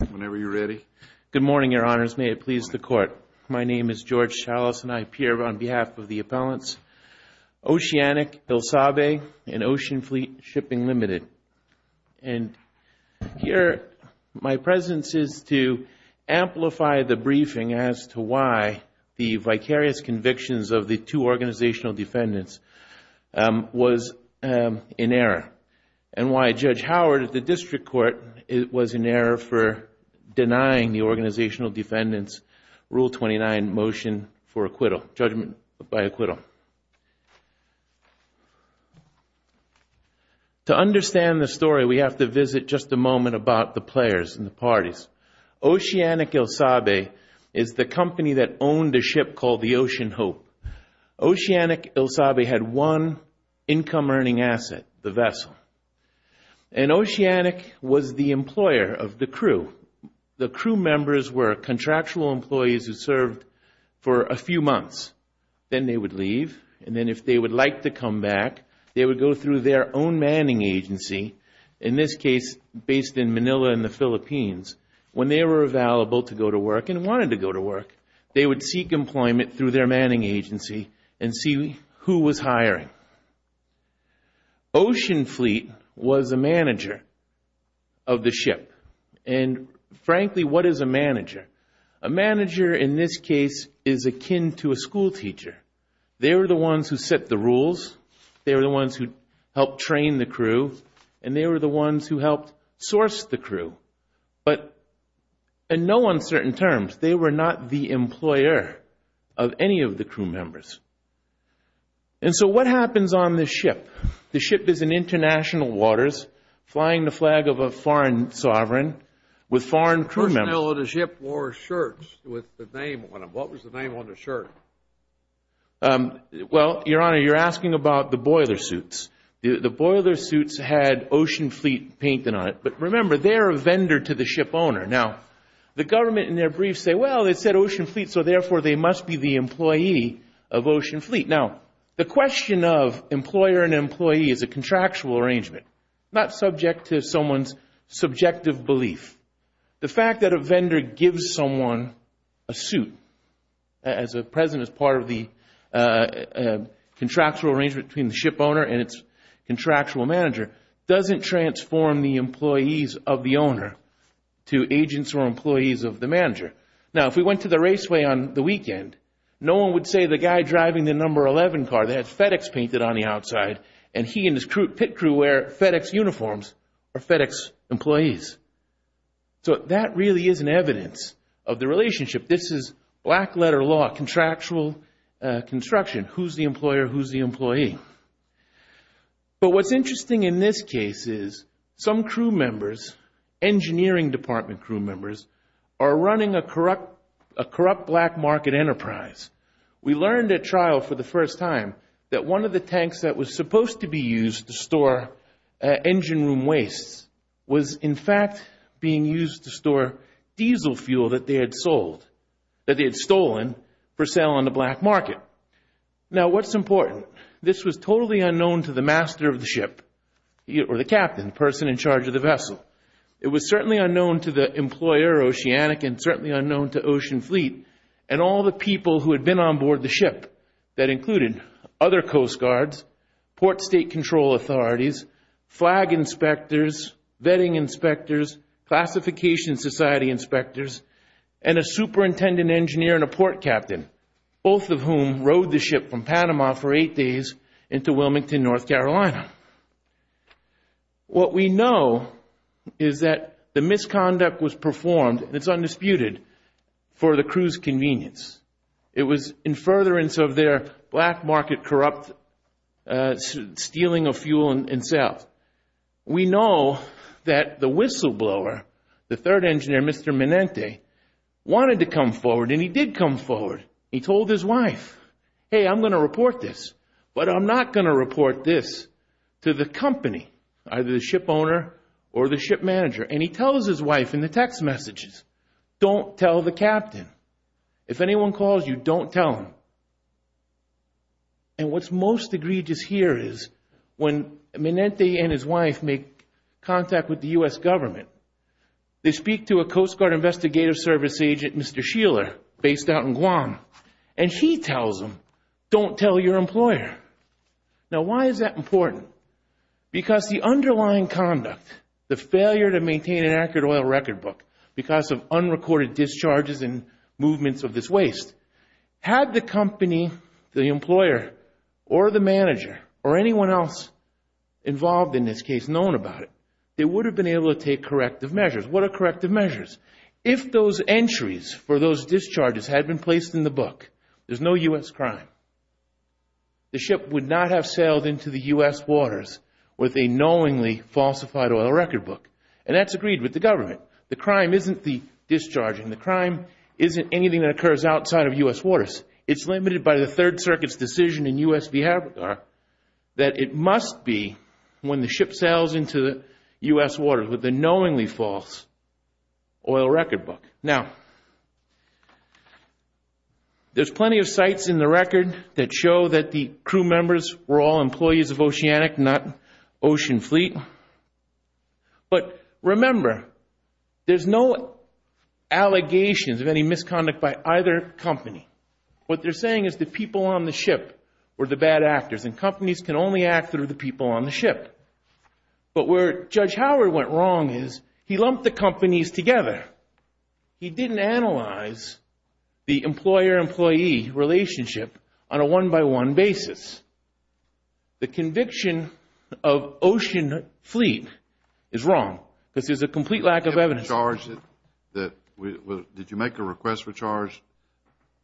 Good morning, Your Honors. May it please the Court. My name is George Chalas, and I appear on behalf of the appellants. Oceanic Illsabe and Ocean Fleet Shipping Limited. And here my presence is to amplify the briefing as to why the vicarious convictions of the two organizational defendants was in error, and why Judge Howard at the District Court was in error for denying the organizational defendants Rule 29 motion for acquittal, judgment by acquittal. To understand the story, we have to visit just a moment about the players and the parties. Oceanic Illsabe is the company that owned a ship called the Ocean Hope. Oceanic Illsabe had one income earning asset, the vessel. And Oceanic was the employer of the crew. The crew members were contractual employees who served for a few months. Then they would leave, and then if they would like to come back, they would go through their own manning agency, in this case based in Manila in the Philippines. When they were available to go to work and wanted to go to work, they would seek employment through their manning agency and see who was hiring. Ocean Fleet was a manager of the ship. And frankly, what is a manager? A manager in this case is akin to a school teacher. They were the ones who set the rules, they were the ones who helped train the crew, and they were the ones who helped source the crew. But in no uncertain terms, they were not the employer of any of the crew members. And so what happens on this ship? The ship is in international waters, flying the flag of a foreign sovereign with foreign crew members. Personnel of the ship wore shirts with the name on them. What was the name on the shirt? Well, Your Honor, you're asking about the boiler suits. The boiler suits had Ocean Fleet painted on it. But remember, they're a vendor to the ship owner. Now, the government in Ocean Fleet, so therefore, they must be the employee of Ocean Fleet. Now, the question of employer and employee is a contractual arrangement, not subject to someone's subjective belief. The fact that a vendor gives someone a suit as a present as part of the contractual arrangement between the ship owner and its contractual manager doesn't transform the raceway on the weekend. No one would say the guy driving the number 11 car, they had FedEx painted on the outside, and he and his pit crew wear FedEx uniforms, are FedEx employees. So that really is an evidence of the relationship. This is black letter law, contractual construction, who's the employer, who's the employee. But what's interesting in this case is some crew members are running a corrupt black market enterprise. We learned at trial for the first time that one of the tanks that was supposed to be used to store engine room wastes was in fact being used to store diesel fuel that they had sold, that they had stolen for sale on the black market. Now, what's important? This was totally unknown to the master of the ship, or the captain, the person in charge of the vessel. It was certainly unknown to the employer, Oceanic, and certainly unknown to Ocean Fleet, and all the people who had been on board the ship that included other coast guards, port state control authorities, flag inspectors, vetting inspectors, classification society inspectors, and a superintendent engineer and a port captain, both of whom rode the ship from Panama for eight days into Wilmington, North Carolina. What we know is that the misconduct was performed, and it's undisputed, for the crew's convenience. It was in furtherance of their black market corrupt stealing of fuel and sales. We know that the whistleblower, the third engineer, Mr. Minente, wanted to come forward, and he did come forward. He told his wife, hey, I'm going to report this, but I'm not going to report this to the company, either the ship owner or the ship manager. And he tells his wife in the text messages, don't tell the captain. If anyone calls you, don't tell them. And what's most egregious here is when Minente and his wife make contact with the U.S. government, they speak to a Coast Guard investigative service agent, Mr. Nguyen, and he tells them, don't tell your employer. Now, why is that important? Because the underlying conduct, the failure to maintain an accurate oil record book because of unrecorded discharges and movements of this waste, had the company, the employer, or the manager, or anyone else involved in this case known about it, they would have been able to take corrective measures. What are corrective measures? If those entries for those discharges had been placed in the book, there's no U.S. crime. The ship would not have sailed into the U.S. waters with a knowingly falsified oil record book. And that's agreed with the government. The crime isn't the discharging. The crime isn't anything that occurs outside of U.S. waters. It's limited by the Third Circuit's decision in U.S. behavior that it There's plenty of sites in the record that show that the crew members were all employees of Oceanic, not Ocean Fleet. But remember, there's no allegations of any misconduct by either company. What they're saying is the people on the ship were the bad actors, and companies can only act through the people on the ship. But where Judge Howard went wrong is he lumped the companies together. He didn't analyze the employer-employee relationship on a one-by-one basis. The conviction of Ocean Fleet is wrong. This is a complete lack of evidence. Did you make a request for charge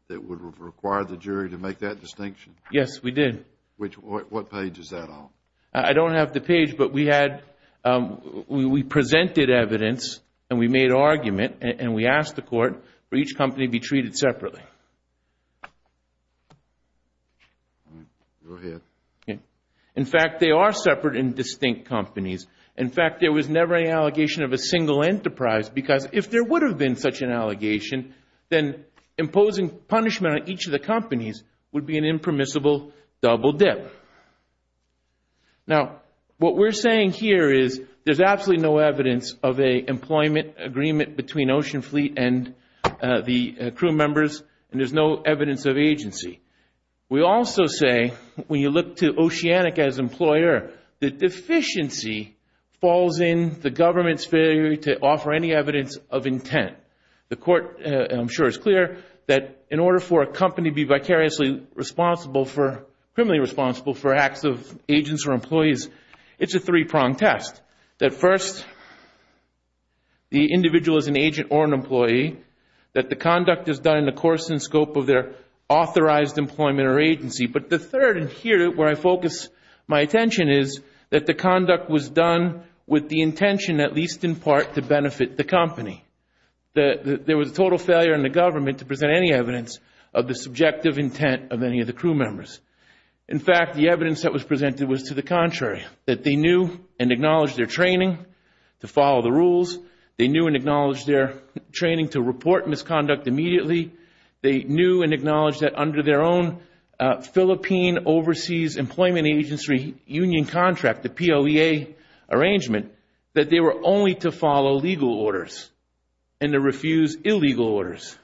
that would require the jury to make that distinction? Yes, we did. What page is that on? I don't have the page, but we presented evidence, and we made an argument, and we asked the court for each company to be treated separately. In fact, they are separate and distinct companies. In fact, there was never any allegation of a single enterprise, because if there would have been such an allegation, then imposing punishment on each of the companies would be an impermissible double dip. Now what we're saying here is there's absolutely no evidence of an employment agreement between Ocean Fleet and the crew members, and there's no evidence of agency. We also say, when you look to Oceanic as employer, the deficiency falls in the government's failure to offer any evidence of intent. The court, I'm sure, is clear that in order for a company to be vicariously responsible for, criminally responsible for acts of agents or employees, it's a three-pronged test. That first, the individual is an agent or an employee, that the conduct is done in the course and scope of their authorized employment or agency. But the third, and here where I focus my attention, is that the conduct was done with the intention, at least in part, to benefit the company. There was a total failure in the government to present any evidence of the subjective intent of any of the crew members. In fact, the evidence that was presented was to the contrary, that they knew and acknowledged their training to follow the rules. They knew and acknowledged their training to report misconduct immediately. They knew and acknowledged that under their own Philippine Overseas Employment Agency union contract, the POEA arrangement, that they were only to follow legal orders and to refuse illegal orders.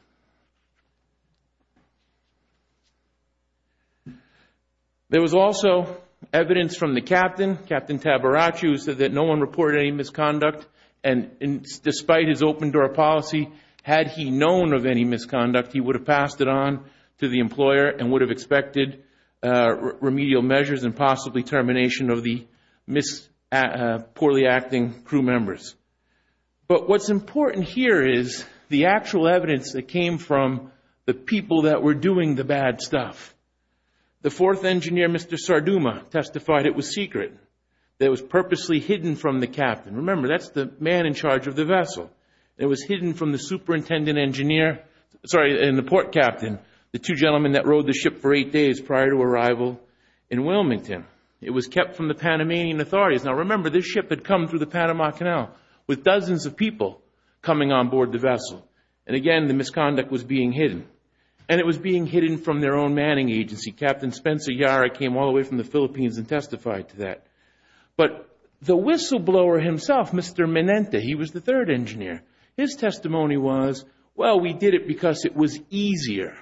There was also evidence from the captain. Captain Tabaraccio said that no one reported any misconduct and despite his open door policy, had he known of any misconduct, he would have passed it on to the employer and would have expected remedial measures and possibly termination of the poorly acting crew members. But what's important here is the actual evidence that came from the people that were doing the bad stuff. The fourth engineer, Mr. Sarduma, testified it was secret. It was purposely hidden from the captain. Remember, that's the man in charge of the vessel. It was hidden from the port captain, the two gentlemen that rowed the ship for eight days prior to arrival in Wilmington. It was kept from the Panamanian authorities. Now, remember, this ship had come through the Panama Canal with dozens of people coming on board the vessel. Again, the misconduct was being hidden. It was being hidden from their own manning agency. Captain Spencer Yara came all the way from the Philippines and testified to that. But the whistleblower himself, Mr. Menente, he was the third engineer. His testimony was, well, we did it because it was easier.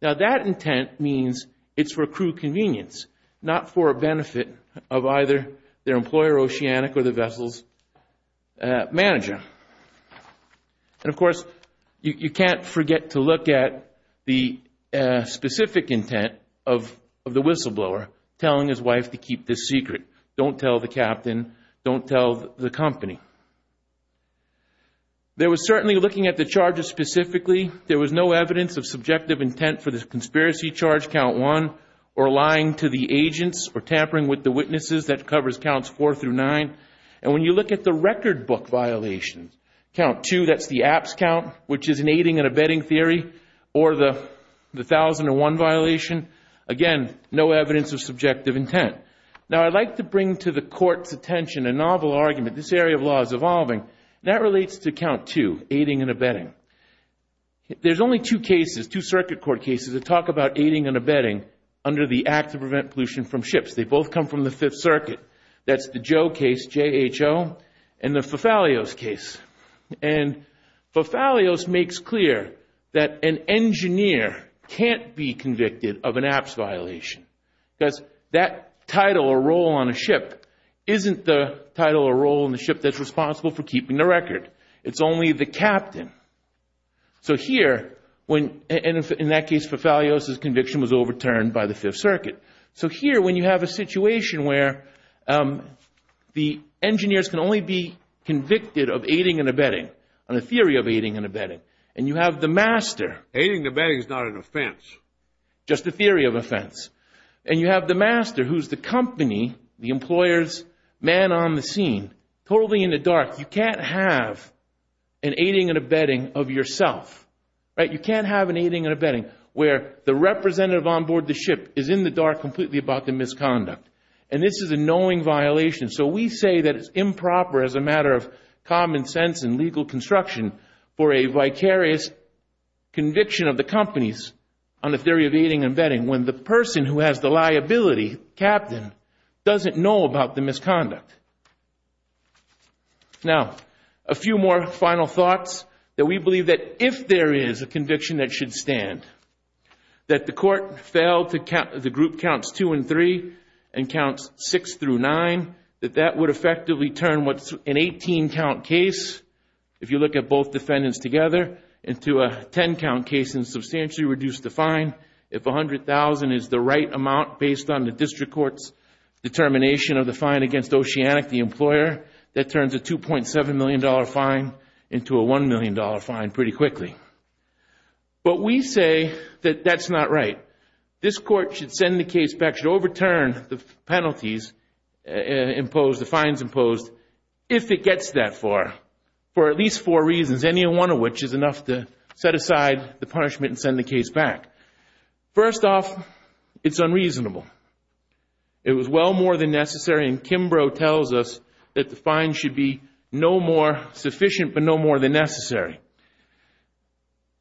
Now, that intent means it's for crew convenience, not for a benefit of either their employer, Oceanic, or the vessel's manager. And of course, you can't forget to look at the specific intent of the whistleblower telling his wife to keep this secret. Don't tell the captain. Don't tell the company. There was certainly looking at the charges specifically. There was no evidence of subjective intent for this conspiracy charge, count one, or lying to the agents or tampering with the witnesses. That covers counts four through nine. And when you look at the record book violations, count two, that's the apps count, which is an aiding and abetting theory, or the thousand and one violation. Again, no evidence of subjective intent. Now, I'd like to bring to the court's attention a novel argument. This area of law is evolving. That relates to count two, aiding and abetting. There's only two cases, two circuit court cases that talk about aiding and abetting under the Act to Prevent Pollution from Ships. They both come from the Fifth Circuit. That's the Joe case, JHO, and the Fafalios case. And Fafalios makes clear that an engineer can't be convicted of an apps violation because that title or role on a ship isn't the title or role on the ship that's responsible for keeping the record. It's only the captain. So here, in that case, Fafalios' conviction was overturned by the Fifth Circuit. So here, when you have a situation where the engineers can only be convicted of aiding and abetting, on a theory of aiding and abetting, and you have the master— Aiding and abetting is not an offense. Just a theory of offense. And you have the master, who's the company, the employers, man on the scene, totally in the dark. You can't have an aiding and abetting of yourself. Right? You can't have an aiding and abetting where the representative on board the ship is in the dark completely about the misconduct. And this is a knowing violation. So we say that it's improper as a matter of common sense and legal construction for a vicarious conviction of the companies on the theory of aiding and abetting when the person who has the liability, captain, doesn't know about the misconduct. Now, a few more final thoughts that we believe that if there is a conviction that should stand, that the court failed to count—the group counts two and three and counts six through nine—that that would effectively turn what's an 18-count case, if you look at both defendants together, into a 10-count case and substantially reduce the fine. If $100,000 is the right amount based on the district court's determination of the fine against Oceanic, the employer, that turns a $2.7 million fine into a $1 million fine pretty quickly. But we say that that's not right. This court should send the case back, should overturn the penalties imposed, the fines imposed, if it gets that far, for at least four reasons, any one of which is enough to set aside the punishment and send the case back. First off, it's unreasonable. It was well more than necessary, and Kimbrough tells us that the fine should be no more sufficient but no more than necessary.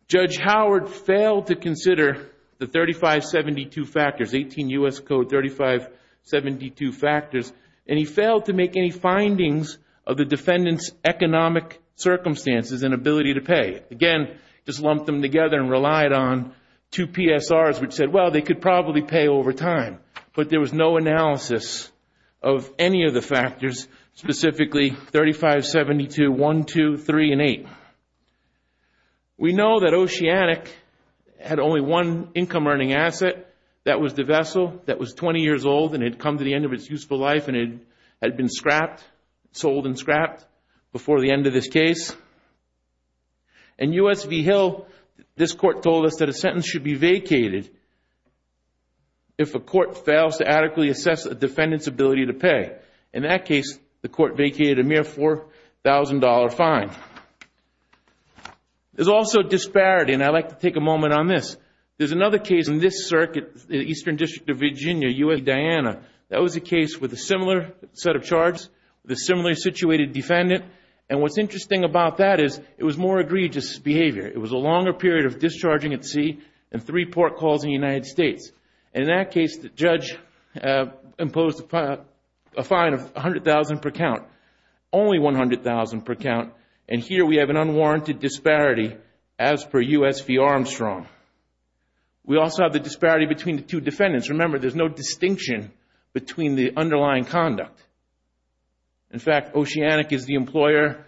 Judge Howard failed to consider the 3572 factors, 18 U.S. Code 3572 factors, and he failed to make any findings of the defendant's economic circumstances and ability to pay. Again, just lumped them together and relied on two PSRs which said, well, they could probably pay over time, but there was no analysis of any of the factors, specifically 3572, 1, 2, 3, and 8. We know that Oceanic had only one income earning asset. That was the vessel that was 20 years old and had come to the end of its useful life and had been scrapped, sold and scrapped before the end of this case. In U.S. v. Hill, this court told us that a sentence should be vacated if a court fails to adequately assess a defendant's ability to pay. In that case, there's also disparity, and I'd like to take a moment on this. There's another case in this circuit, the Eastern District of Virginia, U.S. v. Diana. That was a case with a similar set of charges, with a similar situated defendant, and what's interesting about that is it was more egregious behavior. It was a longer period of discharging at sea and three port calls in the United States. In that case, the judge imposed a fine of $100,000 per count, only $100,000 per count, and here we have an unwarranted disparity as per U.S. v. Armstrong. We also have the disparity between the two defendants. Remember, there's no distinction between the underlying conduct. In fact, Oceanic is the employer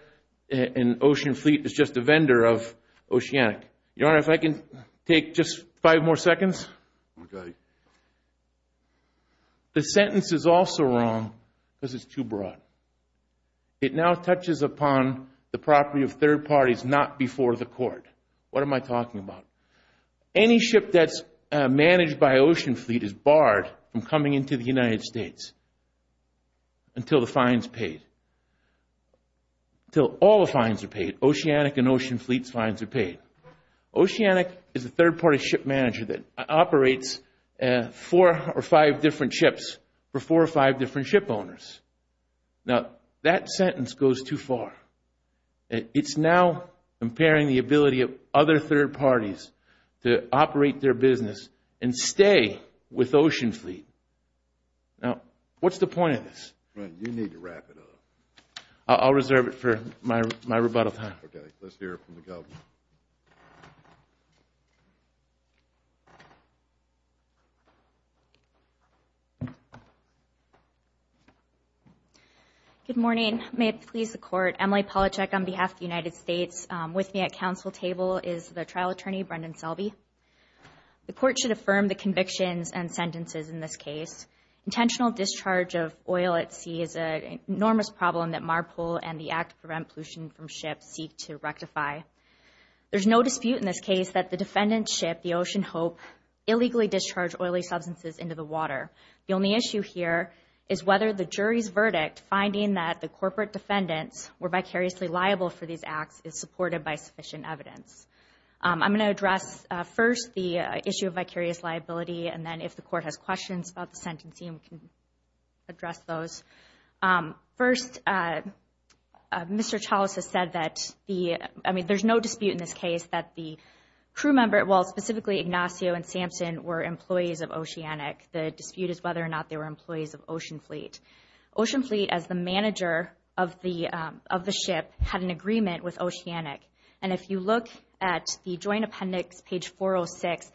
and Ocean Fleet is just a vendor of Oceanic. Your Honor, if I can take just five more seconds. Okay. The sentence is also wrong because it's too broad. It now touches upon the property of third parties not before the court. What am I talking about? Any ship that's managed by Ocean Fleet is barred from coming into the United States until the fine is paid, until all the fines are paid. Oceanic and Ocean Fleet's fines are paid. Oceanic is a third party that operates four or five different ships for four or five different ship owners. Now, that sentence goes too far. It's now impairing the ability of other third parties to operate their business and stay with Ocean Fleet. Now, what's the point of this? You need to wrap it up. I'll reserve it for my rebuttal time. Okay. Let's hear it from the government. Good morning. May it please the Court. Emily Polachek on behalf of the United States with me at council table is the trial attorney, Brendan Selby. The Court should affirm the convictions and sentences in this case. Intentional discharge of oil at sea is an enormous problem that MARPOL and the Act to Prevent Pollution from Ships seek to rectify. There's no dispute in this case that the defendant's ship, the Ocean Hope, illegally discharged oily substances into the water. The only issue here is whether the jury's verdict, finding that the corporate defendants were vicariously liable for these acts, is supported by sufficient evidence. I'm going to address first the issue of vicarious liability, and then if the Court has questions about the sentencing, we can address those. First, Mr. Chalice has said that, I mean, there's no dispute in this case that the crew member, well, specifically Ignacio and Samson, were employees of Oceanic. The dispute is whether or not they were employees of Ocean Fleet. Ocean Fleet, as the manager of the ship, had an agreement with Oceanic. And if you look at the Joint Appendix, page 406,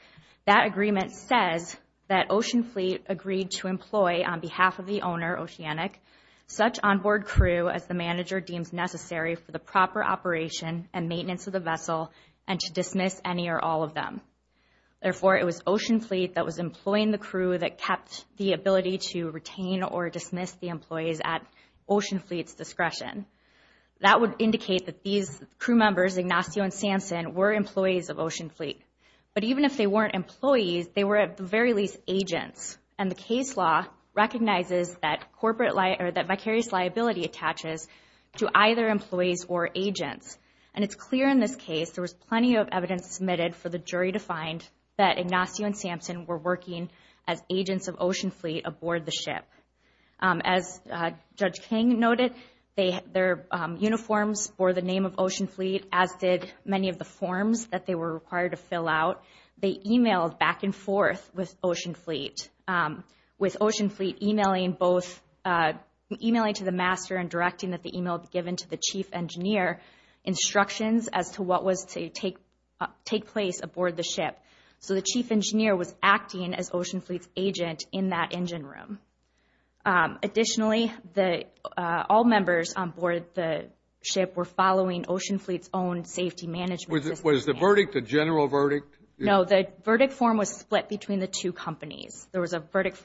that agreement says that Ocean Fleet agreed to employ, on behalf of the owner, Oceanic, such onboard crew as the manager deems necessary for the proper operation and maintenance of the vessel and to dismiss any or all of them. Therefore, it was Ocean Fleet that was employing the crew that kept the ability to retain or dismiss the employees at Ocean Fleet's discretion. That would indicate that these crew members, Ignacio and Samson, were employees of Ocean Fleet. But even if they weren't employees, they were, at the very least, agents. And the case law recognizes that vicarious liability attaches to either employees or agents. And it's clear in this case, there was plenty of evidence submitted for the jury to find that Ignacio and Samson were working as agents of Ocean Fleet aboard the ship. As Judge King noted, their uniforms bore the name of Ocean Fleet. They requested many of the forms that they were required to fill out. They emailed back and forth with Ocean Fleet, with Ocean Fleet emailing both, emailing to the master and directing that the email be given to the chief engineer, instructions as to what was to take place aboard the ship. So the chief engineer was acting as Ocean Fleet's agent in that engine room. Additionally, all members on board the ship were following Ocean Fleet's own safety management. Was the verdict a general verdict? No, the verdict form was split between the two companies. There was a verdict,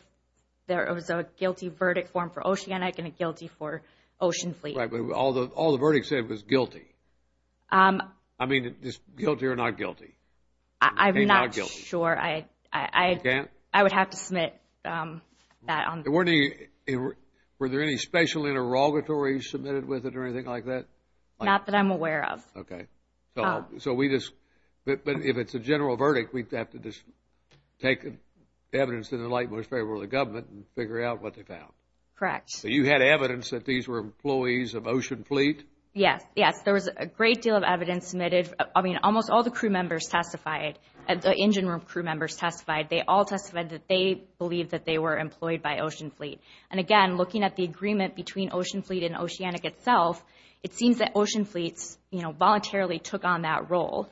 there was a guilty verdict form for Oceanic and a guilty for Ocean Fleet. Right, but all the verdicts said it was guilty. I mean, guilty or not guilty? I'm not sure. I would have to submit that. Were there any special interrogatories submitted with it or anything like that? Not that I'm aware of. Okay. So we just, but if it's a general verdict, we'd have to just take evidence in the light most favorable to the government and figure out what they found. Correct. So you had evidence that these were employees of Ocean Fleet? Yes, yes. There was a great deal of evidence submitted. I mean, almost all the crew members testified, the engine room crew members testified. They all testified that they believed that they were employed by Ocean Fleet. And again, looking at the agreement between Ocean Fleet and Oceanic itself, it seems that Ocean Fleet's, you know, voluntarily took on that role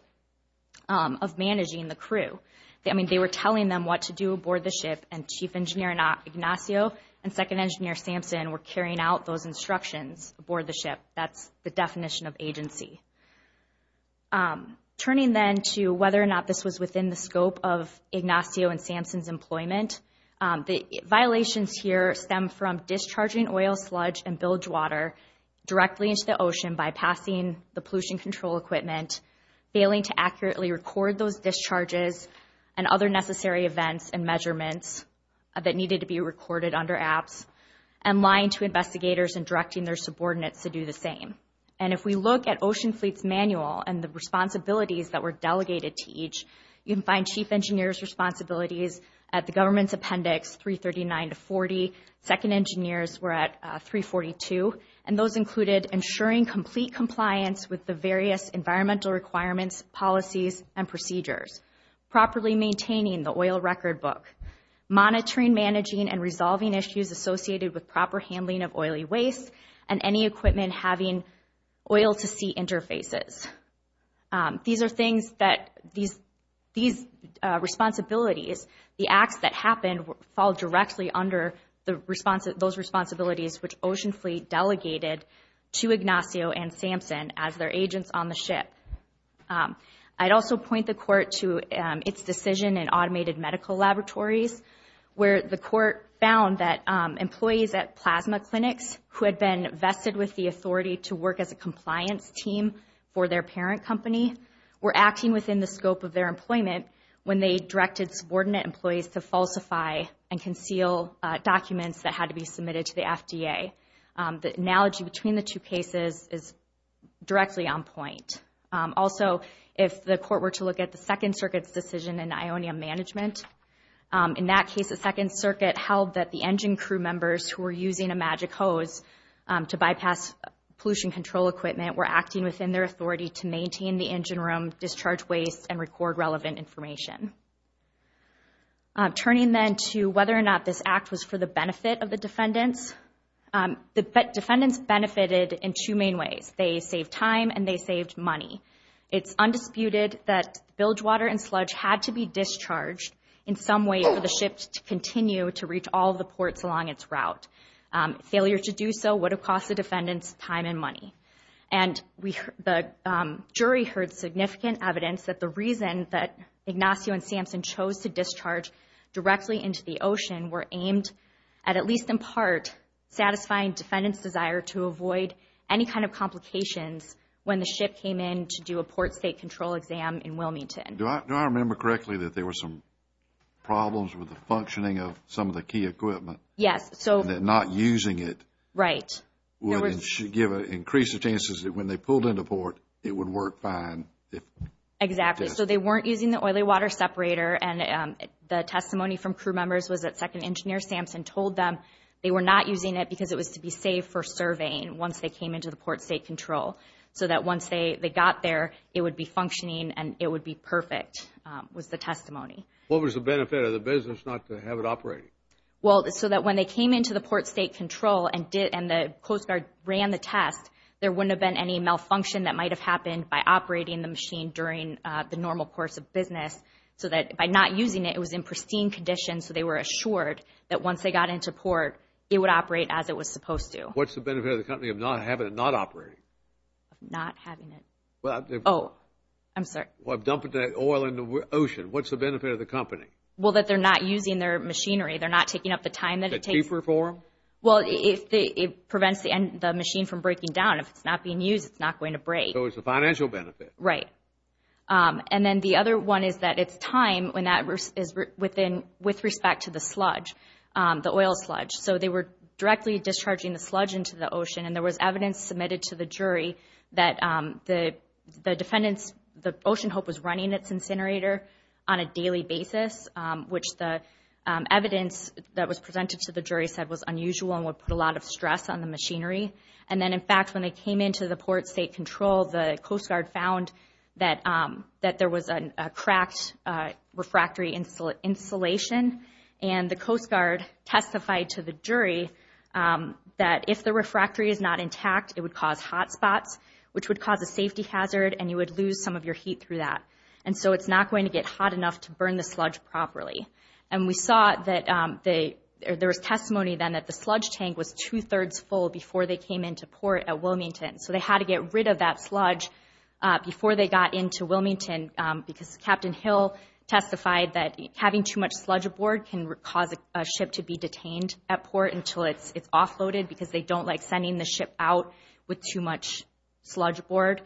of managing the crew. I mean, they were telling them what to do aboard the ship and Chief Engineer Ignacio and Second Engineer Samson were carrying out those instructions aboard the ship. That's the definition of agency. Turning then to whether or not this was within the scope of operations here stem from discharging oil, sludge, and bilge water directly into the ocean, bypassing the pollution control equipment, failing to accurately record those discharges and other necessary events and measurements that needed to be recorded under apps, and lying to investigators and directing their subordinates to do the same. And if we look at Ocean Fleet's manual and the responsibilities that were delegated to each, you can find Chief Engineer's responsibilities at the government's appendix 339 to 40. Second Engineers were at 342. And those included ensuring complete compliance with the various environmental requirements, policies, and procedures, properly maintaining the oil record book, monitoring, managing, and resolving issues associated with proper handling of oily waste, and any responsibilities. The acts that happened fall directly under those responsibilities which Ocean Fleet delegated to Ignacio and Samson as their agents on the ship. I'd also point the court to its decision in automated medical laboratories where the court found that employees at plasma clinics who had been vested with the authority to work as a compliance team for their parent company were acting within the scope of their employment when they directed subordinate employees to falsify and conceal documents that had to be submitted to the FDA. The analogy between the two cases is directly on point. Also, if the court were to look at the Second Circuit's decision in ionium management, in that case the Second Circuit held that the engine crew members who were using a magic hose to bypass pollution control equipment were acting within their authority to maintain the engine room, discharge waste, and record relevant information. Turning then to whether or not this act was for the benefit of the defendants, the defendants benefited in two main ways. They saved time and they saved money. It's undisputed that bilge water and sludge had to be discharged in some way for the ship to continue to reach all the ports along its route. Failure to do so would have cost the defendants time and money. The jury heard significant evidence that the reason that Ignacio and Sampson chose to discharge directly into the ocean were aimed at at least in part satisfying defendants' desire to avoid any kind of complications when the ship came in to do a port state control exam in Wilmington. Do I remember correctly that there were some problems with the functioning of some of the key equipment? Yes. And not using it? Right. Would it give an increase of chances that when they pulled into port it would work fine? Exactly. So they weren't using the oily water separator and the testimony from crew members was that second engineer Sampson told them they were not using it because it was to be safe for surveying once they came into the port state control. So that once they got there it would be functioning and it would be perfect was the testimony. What was the benefit of the business not to have it operating? Well, so that when they came into the port state control and the Coast Guard ran the test there wouldn't have been any malfunction that might have happened by operating the machine during the normal course of business. So that by not using it it was in pristine condition so they were assured that once they got into port it would operate as it was supposed to. What's the benefit of the company of not having it not operating? Not having it. Oh, I'm sorry. Well, dumping the oil in the ocean. What's the benefit of the company? Well, that they're not using their machinery. They're not taking up the time. Is it cheaper for them? Well, it prevents the machine from breaking down. If it's not being used it's not going to break. So it's a financial benefit. Right. And then the other one is that it's time when that is within with respect to the sludge, the oil sludge. So they were directly discharging the sludge into the ocean and there was evidence submitted to the jury that the defendants, the Ocean Hope was running incinerator on a daily basis, which the evidence that was presented to the jury said was unusual and would put a lot of stress on the machinery. And then in fact when they came into the port state control the Coast Guard found that there was a cracked refractory insulation and the Coast Guard testified to the jury that if the refractory is not intact it would cause hot spots, which would cause a safety hazard and you would lose some of your heat through that. And so it's not going to get hot enough to burn the sludge properly. And we saw that there was testimony then that the sludge tank was two-thirds full before they came into port at Wilmington. So they had to get rid of that sludge before they got into Wilmington because Captain Hill testified that having too much sludge aboard can cause a ship to be detained at port until it's offloaded because they don't like sending the ship out with too much sludge aboard.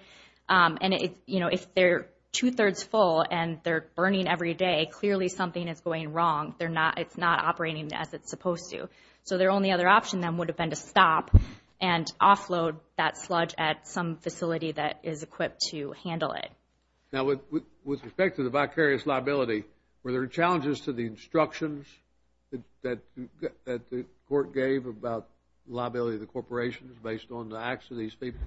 And it, you know, if they're two-thirds full and they're burning every day, clearly something is going wrong. They're not, it's not operating as it's supposed to. So their only other option then would have been to stop and offload that sludge at some facility that is equipped to handle it. Now with respect to the vicarious liability, were there challenges to the instructions that the court gave about liability of the corporations based on the acts of these people?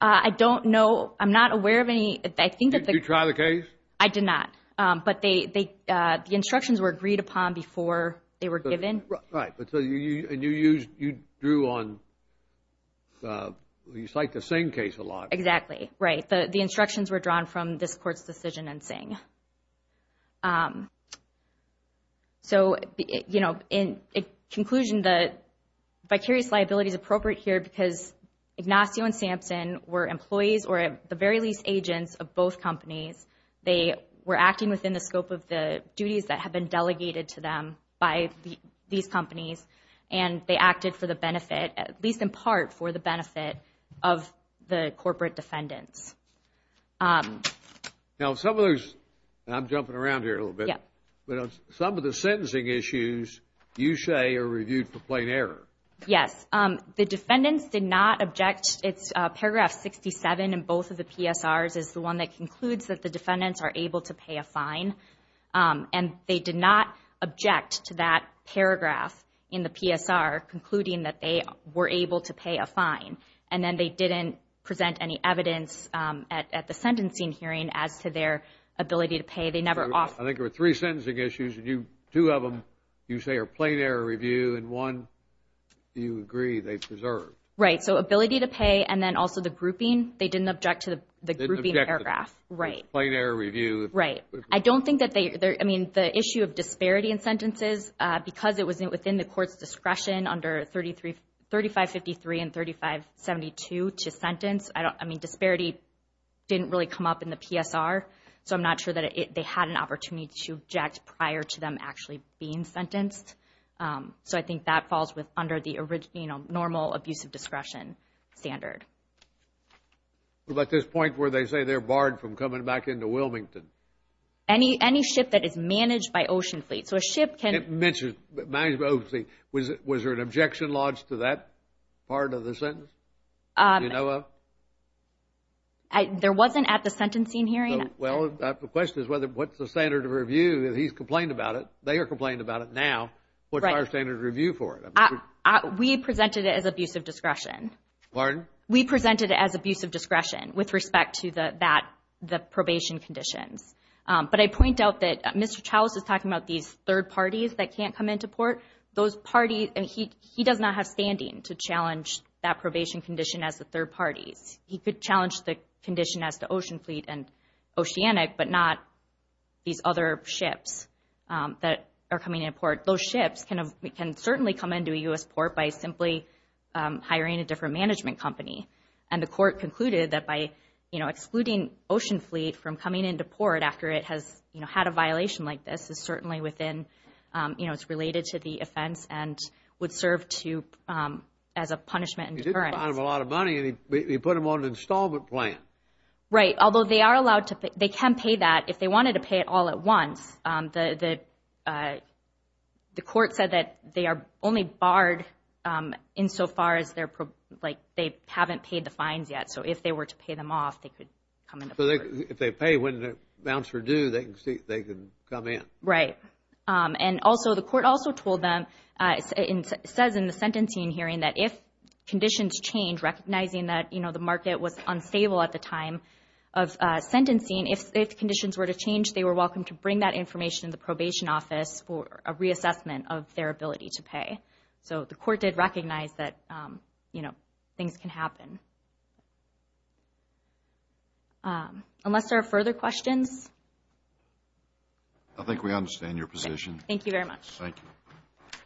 I don't know. I'm not aware of any. I think that the... Did you try the case? I did not. But they, the instructions were agreed upon before they were given. Right. But so you, and you used, you drew on, you cite the Singh case a lot. Exactly. Right. The instructions were drawn from this court's decision in Singh. So, you know, in conclusion, the vicarious liability is appropriate here because Ignacio and Sampson were employees or at the very least agents of both companies. They were acting within the scope of the duties that have been delegated to them by these companies and they acted for the benefit, at least in part for the benefit of the corporate defendants. Now some of those, I'm jumping around here a little bit, but some of the sentencing issues you say are reviewed for plain error. Yes, the defendants did not object. It's paragraph 67 in both of the PSRs is the one that concludes that the defendants are able to pay a fine. And they did not object to that paragraph in the PSR concluding that they were able to pay a fine. And then they didn't present any evidence at the sentencing hearing as to their ability to pay. They never offered... I think there were three sentencing issues and you, two of them you say are plain error review and one you agree they preserved. Right. So ability to pay and then also the grouping, they didn't object to the grouping paragraph. Right. Plain error review. Right. I don't think that they, I mean the issue of disparity in sentences because it was within the court's discretion under 3553 and 3572 to sentence. I don't, I mean disparity didn't really come up in the PSR. So I'm not sure that they had an opportunity to object prior to them actually being sentenced. So I think that falls with under the original normal abusive discretion standard. But this point where they say they're barred from coming back into Wilmington. Any ship that is managed by Ocean Fleet. So a ship can... It mentioned, managed by Ocean Fleet. Was there an objection lodged to that part of the sentence? Do you know of? There wasn't at the sentencing hearing. Well, the question is whether, what's the standard of review? He's complained about it. They are complaining about it now. What's our standard of review for it? We presented it as abusive discretion. Pardon? We presented it as abusive discretion with respect to that, the probation conditions. But I point out that Mr. Charles is talking about these third parties that can't come into port. Those parties, and he does not have standing to challenge that probation condition as the third parties. He could challenge the condition as the Ocean Fleet and Oceanic, but not these other ships that are coming in port. Those ships can certainly come into a U.S. port by simply hiring a different management company. And the court concluded that by excluding Ocean Fleet from coming into port after it has had a violation like this is certainly within... It's related to the offense and would serve as a punishment and deterrence. You didn't fine them a lot of money and you put them on an installment plan. Right. Although they are allowed to... They can pay that if they wanted to pay it all at once. The court said that they are only barred insofar as they haven't paid the fines yet. So if they were to pay them off, they could come into port. If they pay when it amounts for due, they can come in. Right. And also, the court also told them and says in the sentencing hearing that if conditions change, recognizing that the market was unstable at the time of sentencing, if conditions were to change, they were welcome to bring that information to the probation office for a reassessment of their ability to pay. So the court did recognize that, you know, things can happen. Unless there are further questions? I think we understand your position. Thank you very much. Thank you.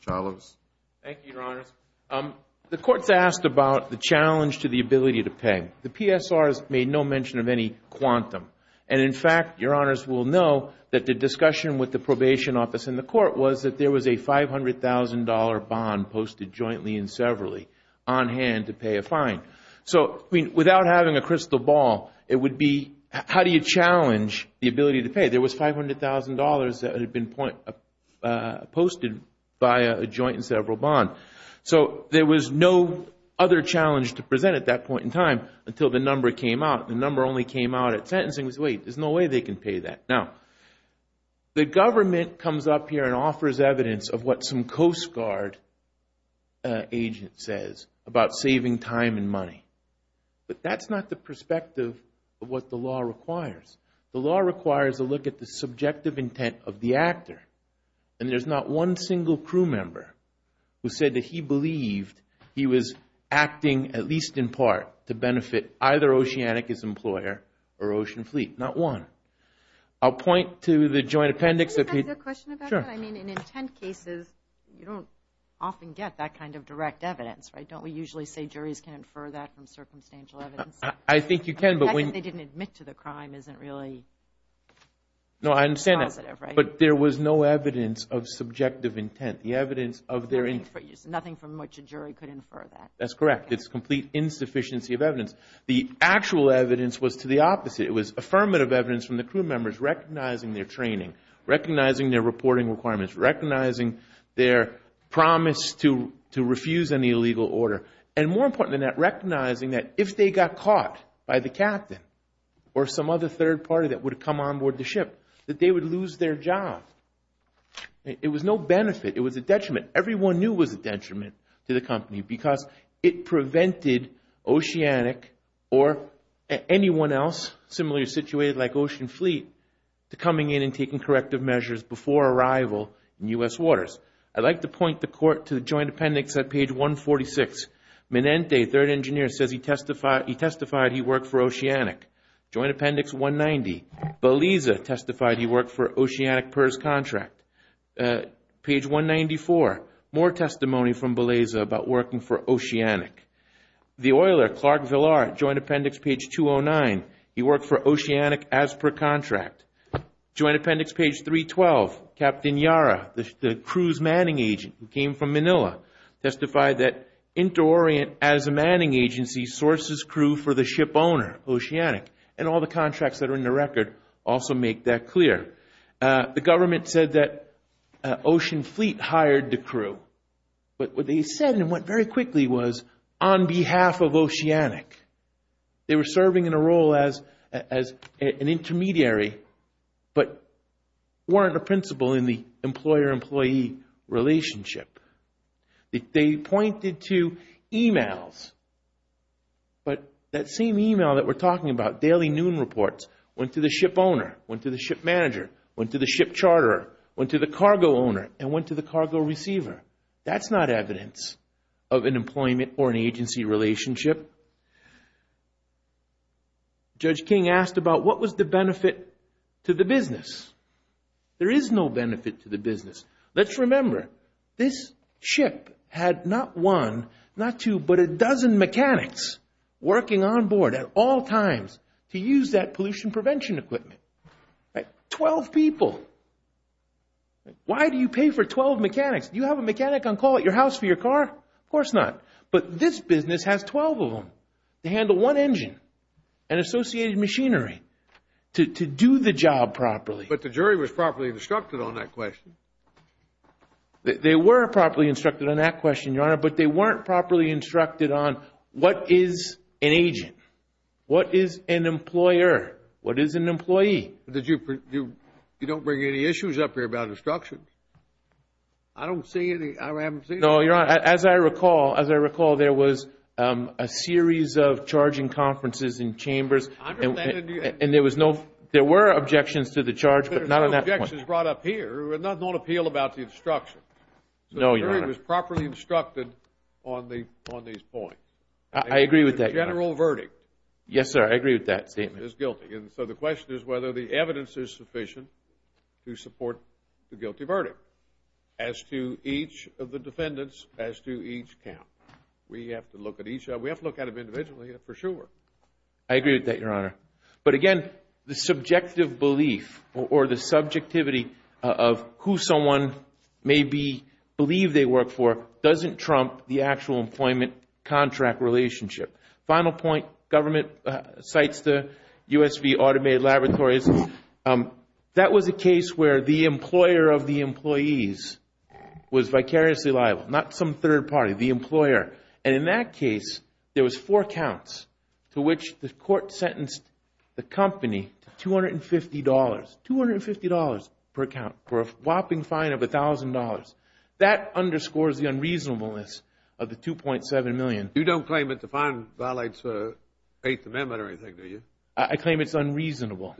Charles? Thank you, Your Honors. The court's asked about the challenge to the ability to pay. The PSR has made no mention of any quantum. And in fact, Your Honors will know that the discussion with the probation office and the court was that there was a $500,000 bond posted jointly and severally on hand to pay a fine. So without having a crystal ball, it would be how do you challenge the ability to pay? There was $500,000 that had been posted by a joint and several bond. So there was no other challenge to present at that point in time until the number came out. The number only came out at sentencing was, wait, there's no way they can pay that. Now, the government comes up here and offers evidence of what some Coast Guard agent says about saving time and money. But that's not the perspective of what the law requires. The law requires a look at the subjective intent of the actor. And there's not one single crew member who said that he believed he was acting at least in part to benefit either Oceanicus employer or Ocean Fleet. Not one. I'll point to the joint appendix. Can I ask a question about that? I mean, in intent cases, you don't often get that kind of direct evidence, right? Don't we usually say juries can infer that from circumstantial evidence? I think you can. The fact that they didn't admit to the crime isn't really positive, right? But there was no evidence of subjective intent. The evidence of their intent. Nothing from which a jury could infer that. That's correct. It's complete insufficiency of evidence. The actual evidence was to the opposite. It was affirmative evidence from the crew members recognizing their training, recognizing their reporting requirements, recognizing their promise to refuse any illegal order. And more important than that, recognizing that if they got caught by the captain or some other third party that would come on board the ship, that they would lose their job. It was no benefit. It was a detriment. Everyone knew it was a detriment to the company because it prevented Oceanic or anyone else similarly situated like Ocean Fleet to coming in and taking corrective measures before arrival in U.S. waters. I'd like to point the court to the joint appendix at page 146. Minente, third engineer, says he testified he worked for Oceanic. Joint appendix 190. Beliza testified he worked for Oceanic PERS contract. Page 194. More testimony from Beliza about working for Oceanic. The oiler, Clark Villar, joint appendix page 209. He worked for Oceanic as per contract. Joint appendix page 312. Captain Yara, the crew's manning agent who came from Manila, testified that InterOrient as a manning agency sources crew for the ship owner, Oceanic. And all the contracts that are in the record also make that clear. The government said that Ocean Fleet hired the crew. But what they said and what very quickly was on behalf of Oceanic. They were serving in a role as an intermediary, but weren't a principal in the employer-employee relationship. They pointed to emails. But that same email that we're talking about, daily noon reports, went to the ship owner, went to the ship manager, went to the ship charterer, went to the cargo owner, and went to the cargo receiver. That's not evidence of an employment or an agency relationship. Judge King asked about what was the benefit to the business. There is no benefit to the business. Let's remember, this ship had not one, not two, but a dozen mechanics working on board at all times to use that pollution prevention equipment. Twelve people. Why do you pay for twelve mechanics? Do you have a mechanic on call at your house for your car? Of course not. But this business has twelve of them to handle one engine and associated machinery to do the job properly. But the jury was properly instructed on that question. They were properly instructed on that question, Your Honor, but they weren't properly instructed on what is an agent? What is an employer? What is an employee? You don't bring any issues up here about instructions? I don't see any. I haven't seen any. No, Your Honor. As I recall, there was a series of charging conferences in chambers, and there were objections to the charge, but not on that point. There was not an appeal about the instruction. No, Your Honor. It was properly instructed on these points. I agree with that, Your Honor. General verdict. Yes, sir. I agree with that statement. Is guilty. So the question is whether the evidence is sufficient to support the guilty verdict as to each of the defendants, as to each count. We have to look at each. We have to look at them individually for sure. I agree with that, Your Honor. But again, the subjective belief or the subjectivity of who someone may be, doesn't trump the actual employment contract relationship. Final point. Government cites the USV automated laboratories. That was a case where the employer of the employees was vicariously liable. Not some third party. The employer. And in that case, there was four counts to which the court sentenced the company to $250. $250 per count for a whopping fine of $1,000. That underscores the unreasonableness of the $2.7 million. You don't claim that the fine violates the Eighth Amendment or anything, do you? I claim it's unreasonable.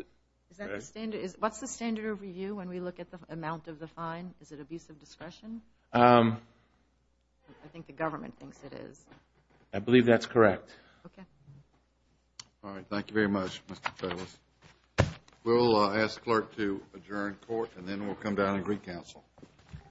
What's the standard of review when we look at the amount of the fine? Is it abuse of discretion? I think the government thinks it is. I believe that's correct. Okay. All right. Thank you very much, Mr. Federalist. We'll ask the clerk to adjourn court and then we'll come down and recounsel.